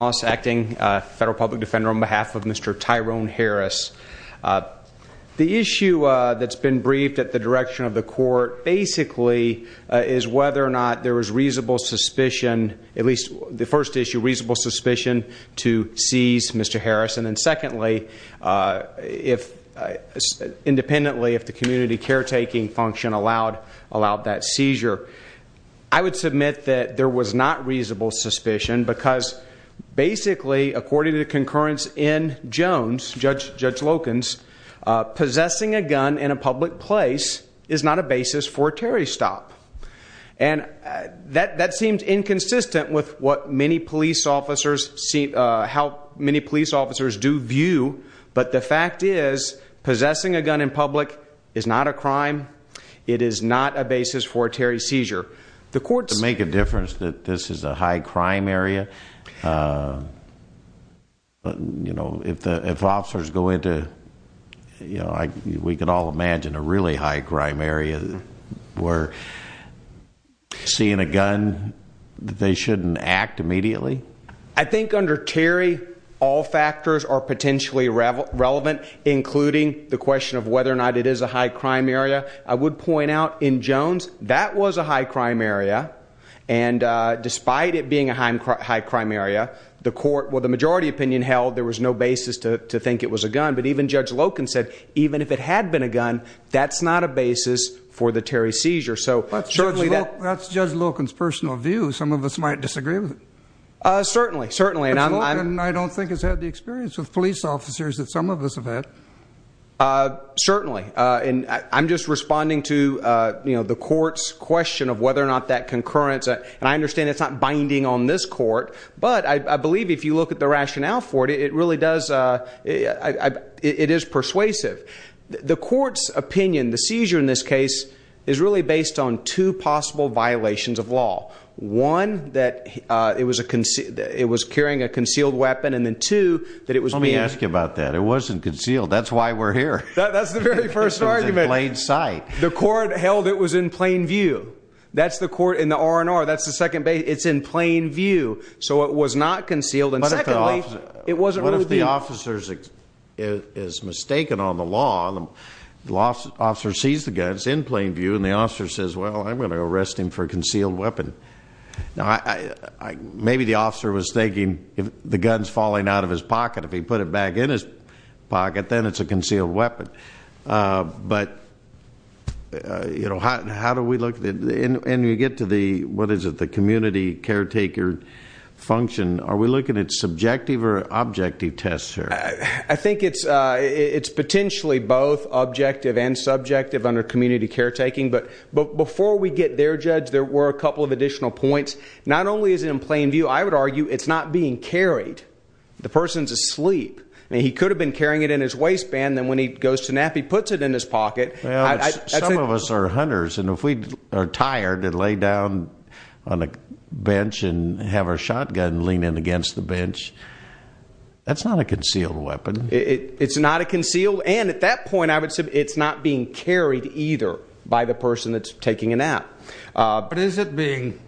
Federal Public Defender on behalf of Mr. Tyrone Harris. The issue that's been briefed at the direction of the court basically is whether or not there was reasonable suspicion, at least the first issue, reasonable suspicion to seize Mr. Harris. And then secondly, independently, if the community caretaking function allowed that seizure. I would submit that there was not reasonable suspicion because basically according to concurrence in Jones, Judge Loken's possessing a gun in a public place is not a basis for a Terry stop. And that seems inconsistent with what many police officers see, how many police officers do view. But the fact is it's not a basis for a Terry seizure. The courts make a difference that this is a high crime area. You know, if the officers go into, you know, we could all imagine a really high crime area where seeing a gun, they shouldn't act immediately. I think under Terry, all factors are potentially relevant, including the question of whether or not it is a high crime area. I would point out in Jones, that was a high crime area. And despite it being a high crime area, the majority opinion held there was no basis to think it was a gun. But even Judge Loken said, even if it had been a gun, that's not a basis for the Terry seizure. That's Judge Loken's personal view. Some of us might disagree with it. Certainly, certainly. And I don't think it's had the experience with police officers that some of us have had. Certainly. And I'm just responding to, you know, the court's question of whether or not that concurrence. And I understand it's not binding on this court. But I believe if you look at the rationale for it, it really does. It is persuasive. The court's opinion, the seizure in this case is really based on two possible violations of law. One, that it was carrying a concealed weapon. And then two, that it was being. Let me ask you about that. It wasn't concealed. That's why we're here. That's the very first argument. It was in plain sight. The court held it was in plain view. That's the court in the R&R. That's the second base. It's in plain view. So it was not concealed. And secondly, it wasn't really being. What if the officer is well, I'm going to arrest him for a concealed weapon. Maybe the officer was thinking the gun's falling out of his pocket. If he put it back in his pocket, then it's a concealed weapon. But, you know, how do we look. And you get to the, what is it, the community caretaker function. Are we looking at subjective or objective tests here? I think it's before we get their judge, there were a couple of additional points. Not only is it in plain view, I would argue it's not being carried. The person's asleep and he could have been carrying it in his waistband. Then when he goes to nap, he puts it in his pocket. Some of us are hunters. And if we are tired and lay down on a bench and have our shotgun lean in against the bench, that's not a concealed weapon. It's not a concealed. And at that point, I would say it's not being carried either by the person that's taking a nap. But is it being.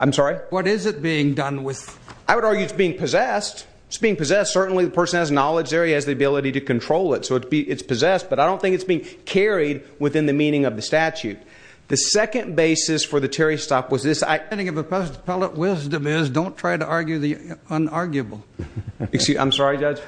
I'm sorry. What is it being done with? I would argue it's being possessed. It's being possessed. Certainly the person has knowledge. There he has the ability to control it. So it's possessed. But I don't think it's being carried within the meaning of the statute. The second basis for the Terry stop was this. I think of a pellet wisdom is don't try to argue the unarguable. I'm sorry, Judge.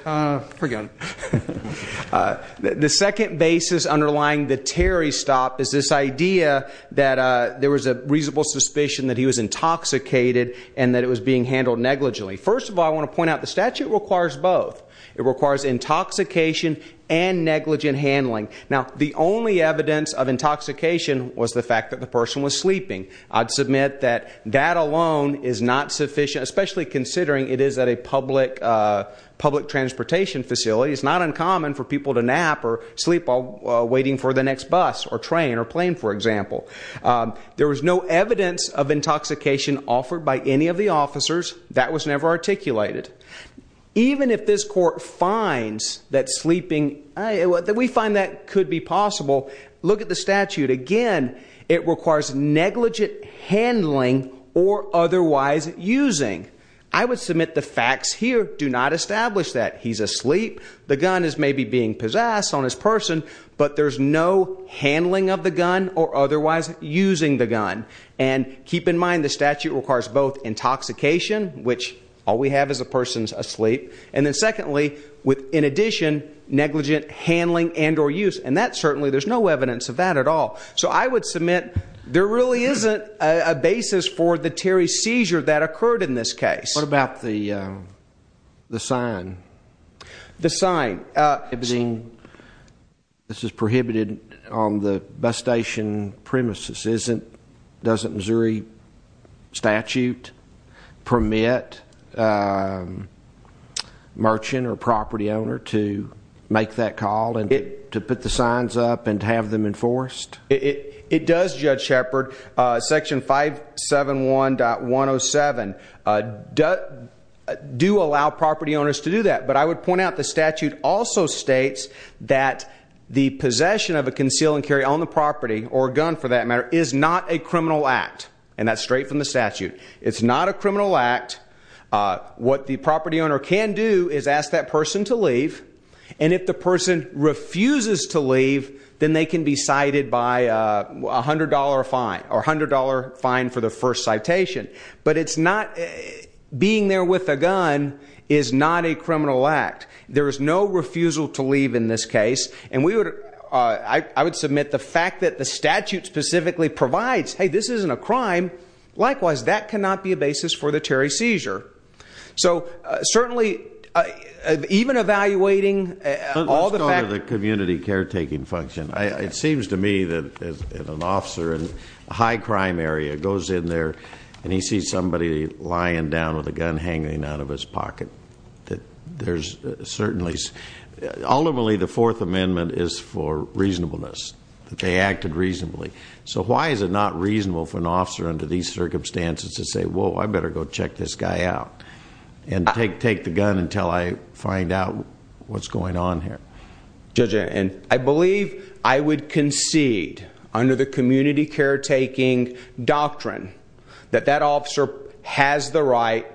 The second basis underlying the Terry stop is this idea that there was a reasonable suspicion that he was intoxicated and that it was being handled negligently. First of all, I want to point out the statute requires both. It requires intoxication and negligent handling. Now, the only evidence of intoxication was the fact that the person was sleeping. I'd submit that that alone is not sufficient, especially considering it is at a public transportation facility. It's not uncommon for people to nap or sleep while waiting for the next bus or train or plane, for example. There was no evidence of intoxication offered by any of the officers. That was never articulated. Even if this court finds that sleeping, we find that could be possible. Look at the statute again. It requires negligent handling or otherwise using. I would submit the facts here. Do not establish that he's asleep. The gun is maybe being possessed on his person, but there's no handling of the gun or otherwise using the gun. And keep in mind the statute requires both intoxication, which all we have is a person's sleep, and then secondly, in addition, negligent handling and or use. And that certainly, there's no evidence of that at all. So I would submit there really isn't a basis for the Terry seizure that occurred in this case. What about the sign? This is prohibited on the bus station premises. Doesn't Missouri statute permit merchant or property owner to make that call and to put the signs up and have them enforced? It does, Judge Shepard. Section 571.107 do allow property owners to do that. But I would point out the statute also states that the possession of a conceal and carry on the property or gun for that matter is not a criminal act. And that's straight from the statute. It's not a criminal act. What the property owner can do is ask that person to leave. And if the person refuses to leave, then they can be cited by $100 fine or $100 fine for the first citation. But it's not being there with a gun is not a criminal act. There is no refusal to leave in this case. And I would submit the fact that the statute specifically provides, hey, this isn't a crime. Likewise, that cannot be a basis for the Terry seizure. So certainly, even evaluating all the Let's go to the community caretaking function. It seems to me that an officer in the community caretaking function has a gun hanging out of his pocket. Ultimately, the Fourth Amendment is for reasonableness. They acted reasonably. So why is it not reasonable for an officer under these circumstances to say, well, I better go check this guy out and take the gun until I find out what's going on here? Judge, I believe I would concede under the community caretaking doctrine that that officer has the right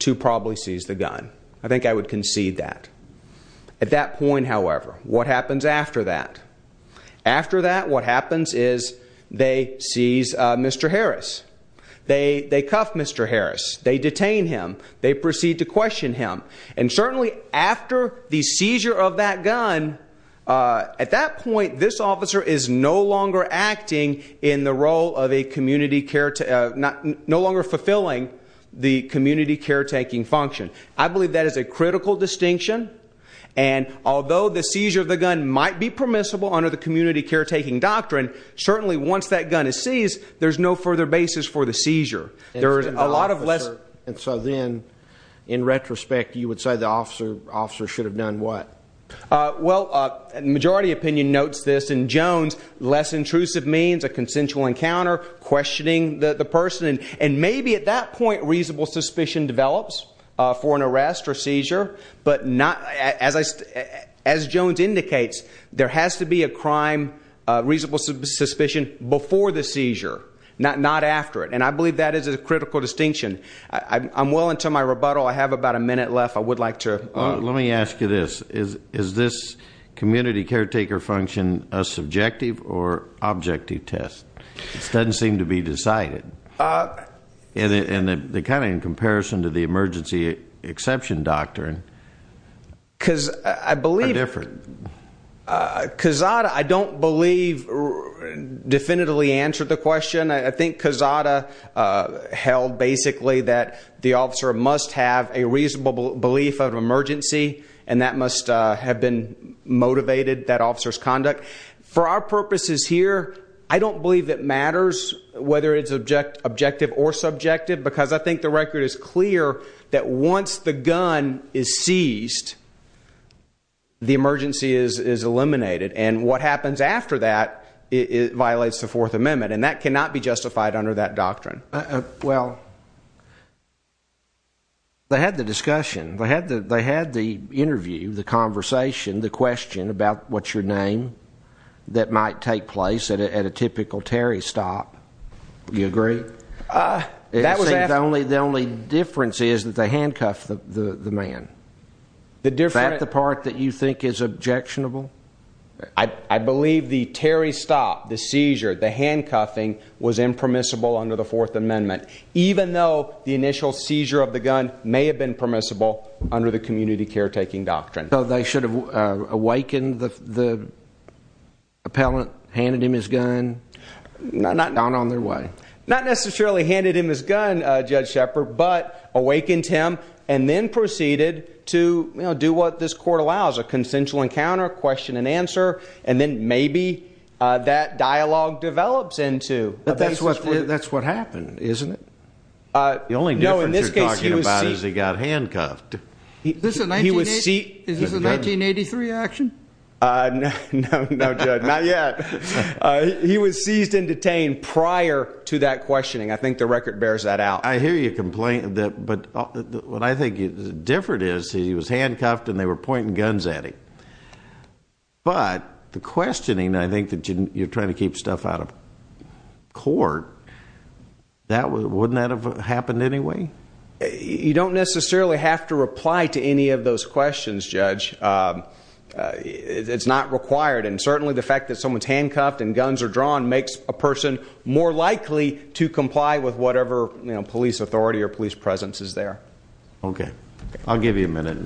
to probably seize the gun. I think I would concede that at that point. However, what happens after that? After that, what happens is they seize Mr. Harris. They cuff Mr. Harris. They detain him. They proceed to question him. And certainly after the seizure of that gun, at that point, this officer is no longer acting in the role of a community care, no longer fulfilling the community caretaking function. I believe that is a critical distinction. And although the seizure of the gun might be permissible under the community caretaking doctrine, certainly once that gun is seized, there's no further basis for the seizure. And so then, in retrospect, you would say the officer should have done what? Well, the majority opinion notes this. And Jones, less intrusive means a consensual encounter, questioning the person. And maybe at that point, reasonable suspicion develops for an arrest or seizure. But as Jones indicates, there has to be a crime, reasonable suspicion before the seizure, not after it. And I believe that is a critical distinction. I'm willing to my rebuttal. I have about a minute left. I would like to Let me ask you this. Is this community caretaker function a subjective or objective test? It doesn't seem to be decided. And kind of in comparison to the emergency exception doctrine, because I believe different because I don't believe definitively answered the question. I think Kazada held basically that the officer must have a reasonable belief of emergency, and that must have been motivated. That officer's conduct for our purposes here. I don't believe it matters whether it's objective or subjective, because I think the record is clear that once the gun is seized, the emergency is eliminated. And what happens after that violates the Fourth Amendment. And that cannot be justified under that doctrine. Well, they had the discussion. They had the interview, the conversation, the question about what's your name that might take place at a typical Terry stop. You agree? The only difference is that they handcuffed the man. That's the part that you think is objectionable? I believe the Terry stop, the seizure, the handcuffing was impermissible under the Fourth Amendment, even though the initial seizure of the gun may have been permissible under the community. Not necessarily handed him his gun, Judge Shepard, but awakened him and then proceeded to do what this court allows, a consensual encounter, question and answer. And then maybe that dialogue develops into... That's what happened, isn't it? The only difference you're talking about is he got handcuffed. Is this a 1983 action? No, Judge, not yet. He was seized and detained prior to that questioning. I think the record bears that out. I hear you complain, but what I think is different is he was handcuffed and they were pointing guns at him. But the questioning, I think that you're trying to keep stuff out of court. Wouldn't that have happened anyway? You don't necessarily have to reply to any of those questions, Judge. It's not required. And certainly the fact that someone's handcuffed and guns are drawn makes a person more likely to comply with whatever police authority or police presence is there. Okay, I'll give you a minute.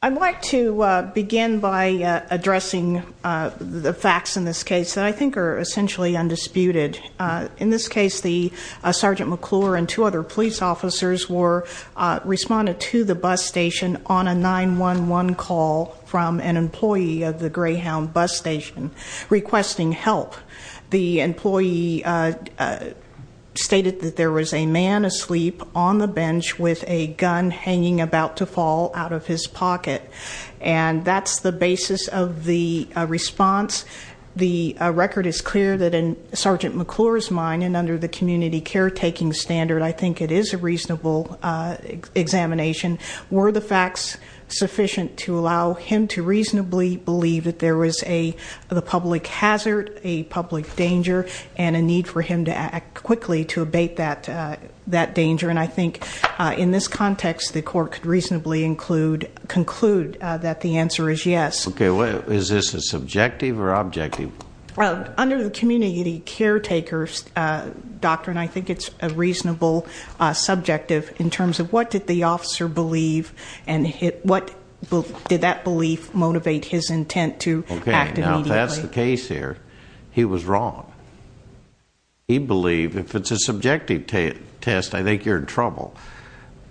I'd like to begin by addressing the facts in this case that I think are essentially undisputed. In this case, Sergeant McClure and two other police officers responded to the bus station on a 9-1-1 call from an employee of the Greyhound bus station, requesting help. The employee stated that there was a man asleep on the bench with a gun hanging about to fall out of his pocket. And that's the basis of the response. The record is clear that in Sergeant McClure's mind, and under the community caretaking standard, I think it is a reasonable examination, were the facts sufficient to allow him to reasonably believe that there was a public hazard, a public danger, and a need for him to act quickly to abate that danger. And I think in this context, the court could reasonably conclude that the answer is yes. Okay, is this a subjective or objective? Under the community caretaker doctrine, I think it's a reasonable subjective in terms of what did the officer believe, and did that belief motivate his intent to act immediately? Okay, now if that's the case here, he was wrong. He believed, if it's a subjective test, I think you're in trouble.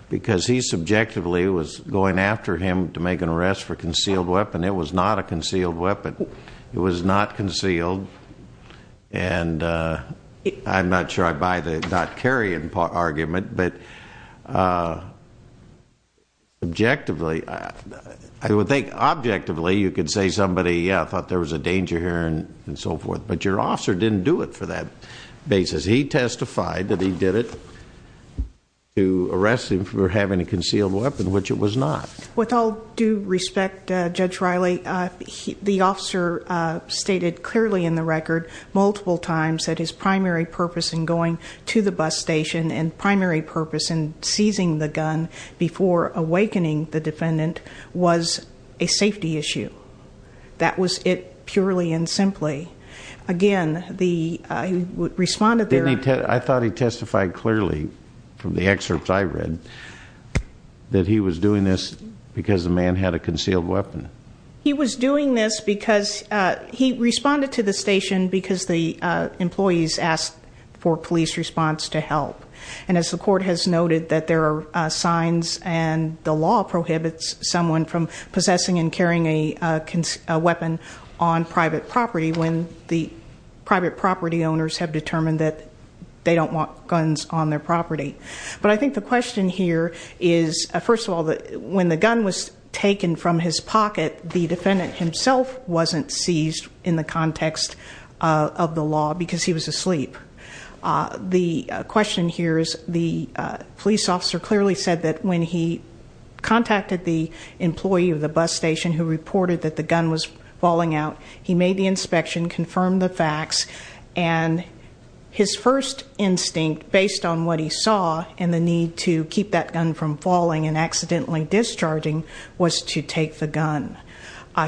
Because he subjectively was going after him to make an arrest for a concealed weapon. It was not a concealed weapon. It was not concealed. And I'm not sure I buy the not carrying argument, but objectively, I would think objectively you could say somebody, yeah, thought there was a danger here and so forth. But your officer didn't do it for that basis. He testified that he did it to arrest him for having a concealed weapon, which it was not. With all due respect, Judge Riley, the officer stated clearly in the record multiple times that his primary purpose in going to the bus station and primary purpose in seizing the gun before awakening the defendant was a safety issue. That was it purely and simply. Again, he responded... I thought he testified clearly from the excerpts I read that he was doing this because the man had a concealed weapon. He was doing this because he responded to the station because the employees asked for police response to help. And as the court has noted that there are signs and the law prohibits someone from possessing and carrying a weapon on private property when the private property owners have determined that they don't want guns on their property. But I think the question here is, first of all, when the gun was taken from his pocket, the defendant himself wasn't seized in the context of the law because he was asleep. The question here is the police officer clearly said that when he contacted the employee of the bus station who reported that the gun was falling out, he made the inspection, confirmed the facts, and his first instinct based on what he saw and the need to keep that gun from falling and accidentally discharging was to take the gun.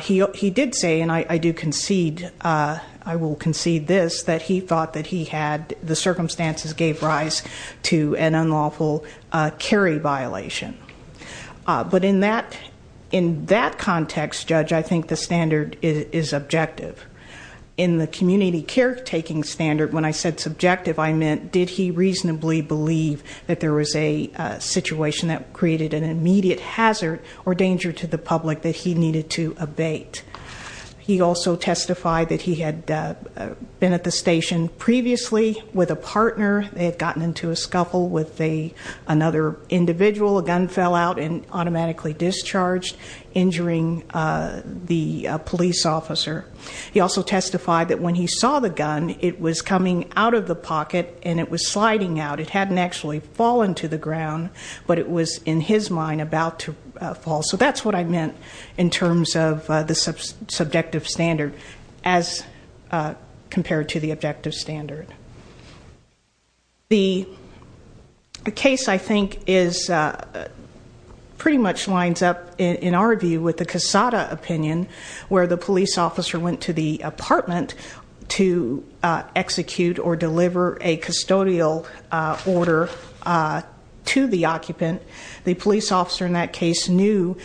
He did say, and I do concede, I will concede this, that he thought that he had... the circumstances gave rise to an in that context, Judge, I think the standard is objective. In the community care taking standard, when I said subjective, I meant did he reasonably believe that there was a situation that created an immediate hazard or danger to the public that he needed to abate? He also testified that he had been at the station previously with a partner. They had gotten into a scuffle with another individual. A gun fell out and automatically discharged, injuring the police officer. He also testified that when he saw the gun, it was coming out of the pocket and it was sliding out. It hadn't actually fallen to the ground, but it was in his mind about to fall. So that's what I meant in terms of the subjective standard as well. The case, I think, pretty much lines up, in our view, with the Casada opinion, where the police officer went to the apartment to execute or deliver a custodial order to the occupant. The police officer in that case knew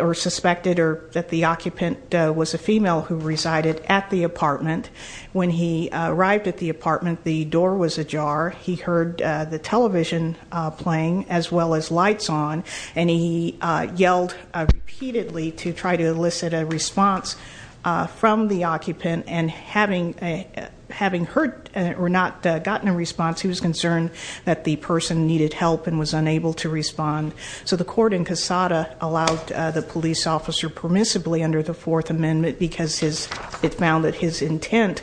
or suspected that the occupant was a female who resided at the apartment. When he arrived at the apartment, the door was ajar. He heard the television playing as well as lights on. And he yelled repeatedly to try to elicit a response from the occupant. And having heard or not gotten a response, he was concerned that the person needed help and was unable to respond. So the court in Casada allowed the police officer permissibly under the Fourth Amendment because it found that his intent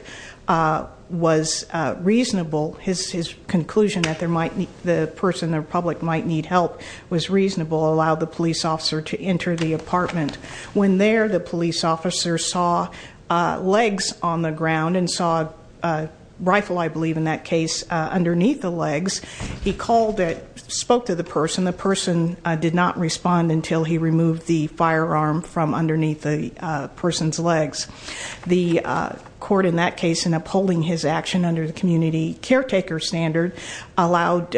was reasonable. His conclusion that the person in the public might need help was reasonable, allowed the police officer to enter the apartment. When there, the police officer saw legs on the ground and saw a rifle, I believe, in that position, did not respond until he removed the firearm from underneath the person's legs. The court in that case, in upholding his action under the community caretaker standard, allowed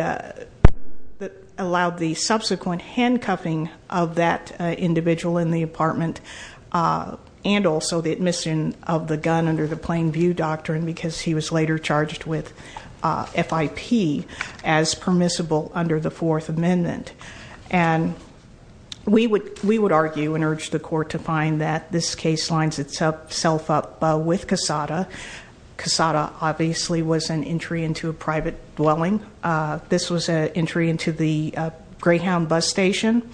the subsequent handcuffing of that individual in the apartment and also the admission of the gun under the plain view doctrine because he was later charged with FIP as permissible under the Fourth Amendment. We would argue and urge the court to find that this case lines itself up with Casada. Casada obviously was an entry into a private dwelling. This was an entry into the Greyhound bus station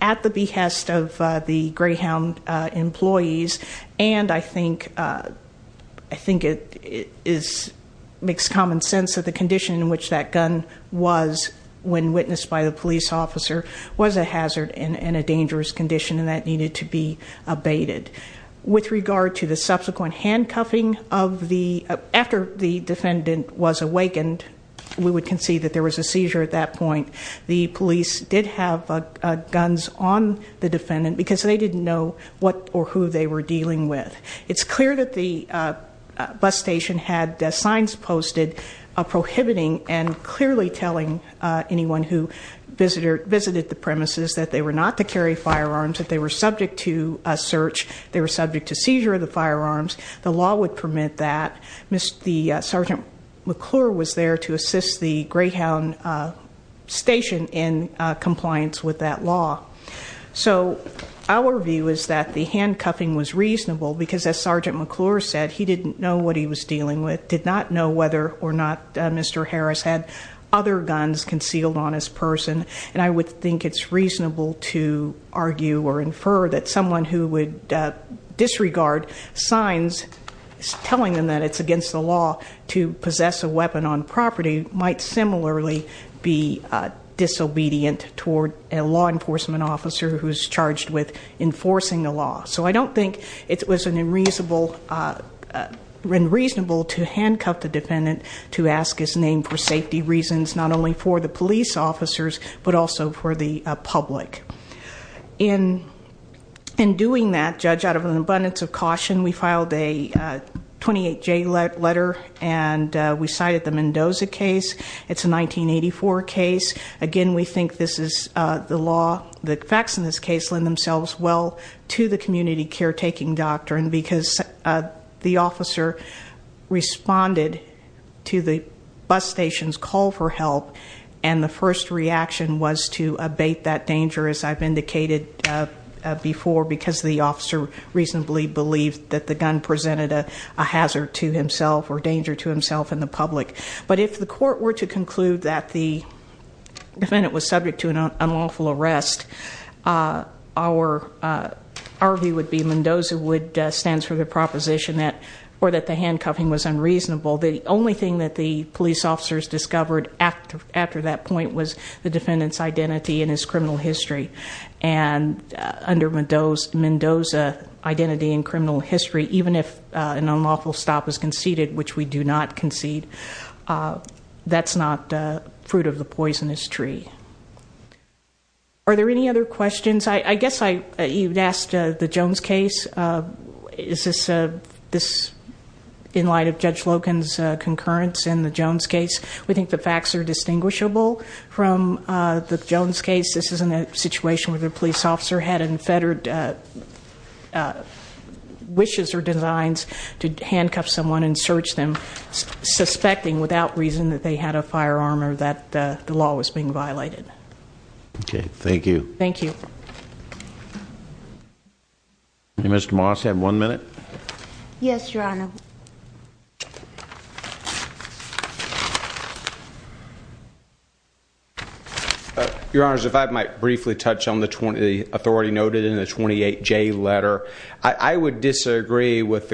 at the behest of the Greyhound employees. And I think it makes common sense that the condition in which that gun was when witnessed by the police officer was a hazard and a dangerous condition and that needed to be abated. With regard to the subsequent handcuffing of the, after the defendant was awakened, we would concede that there was a seizure at that point. The police did have guns on the defendant because they didn't know what or who they were dealing with. It's clear that the bus station had signs posted prohibiting and clearly telling anyone who visited the premises that they were not to carry firearms, that they were subject to search, they were subject to seizure of the firearms. The law would permit that. The Sergeant McClure was there to assist the Greyhound station in compliance with that law. So our view is that the handcuffing was reasonable because as Sergeant McClure said, he didn't know what he was dealing with, did not know whether or not Mr. Harris had other guns concealed on his person. And I would think it's reasonable to argue or infer that someone who would disregard signs telling them that it's against the law to possess a weapon on property might similarly be disobedient toward a law enforcement officer who's charged with enforcing the law. So I don't think it was unreasonable to handcuff the defendant to ask his name for safety reasons, not only for the police officers, but also for the public. In doing that, Judge, out of an abundance of caution, we filed a 28-J letter and we cited the Mendoza case. It's a 1984 case. Again, we think this is the law, the facts in this case lend themselves well to the community caretaking doctrine because the officer responded to the bus station's call for help and the first reaction was to abate that danger, as I've indicated before, because the officer reasonably believed that the gun presented a hazard to himself or danger to himself and the public. But if the court were to conclude that the defendant was subject to an unlawful arrest, our view would be Mendoza stands for the proposition that the handcuffing was unreasonable. The only thing that the police officers discovered after that point was the defendant's identity and his criminal history. Under Mendoza, identity and criminal history, even if an unlawful stop is conceded, which we do not concede, that's not fruit of the poisonous tree. Are there any other questions? I guess you asked the Jones case. Is this in light of Judge Loken's concurrence in the Jones case? We think the facts are distinguishable from the Jones case. This isn't a situation where the police officer had unfettered wishes or designs to handcuff someone and search them, suspecting without reason that they had a firearm or that the law was being violated. Thank you. Mr. Moss, you have one minute. Yes, Your Honor. Your Honors, if I might briefly touch on the authority noted in the 28J letter, I would disagree with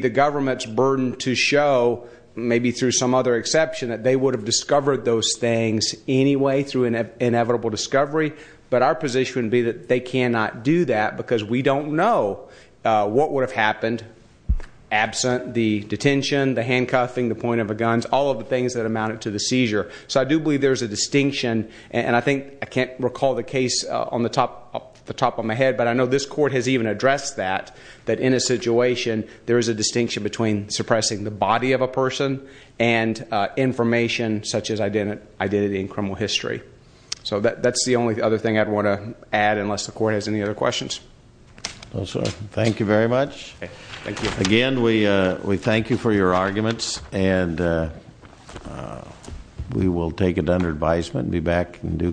the government's burden to show, maybe through some other exception, that they would have discovered those things and they would have done those things anyway through inevitable discovery. But our position would be that they cannot do that because we don't know what would have happened absent the detention, the handcuffing, the point of a gun, all of the things that amounted to the seizure. So I do believe there's a distinction, and I think, I can't recall the case off the top of my head, but I know this court has even addressed that, that in a situation there is a distinction between suppressing the body of a person and information such as identity and criminal history. So that's the only other thing I'd want to add unless the court has any other questions. Again, we thank you for your arguments and we will take it under advisement and be back in due course.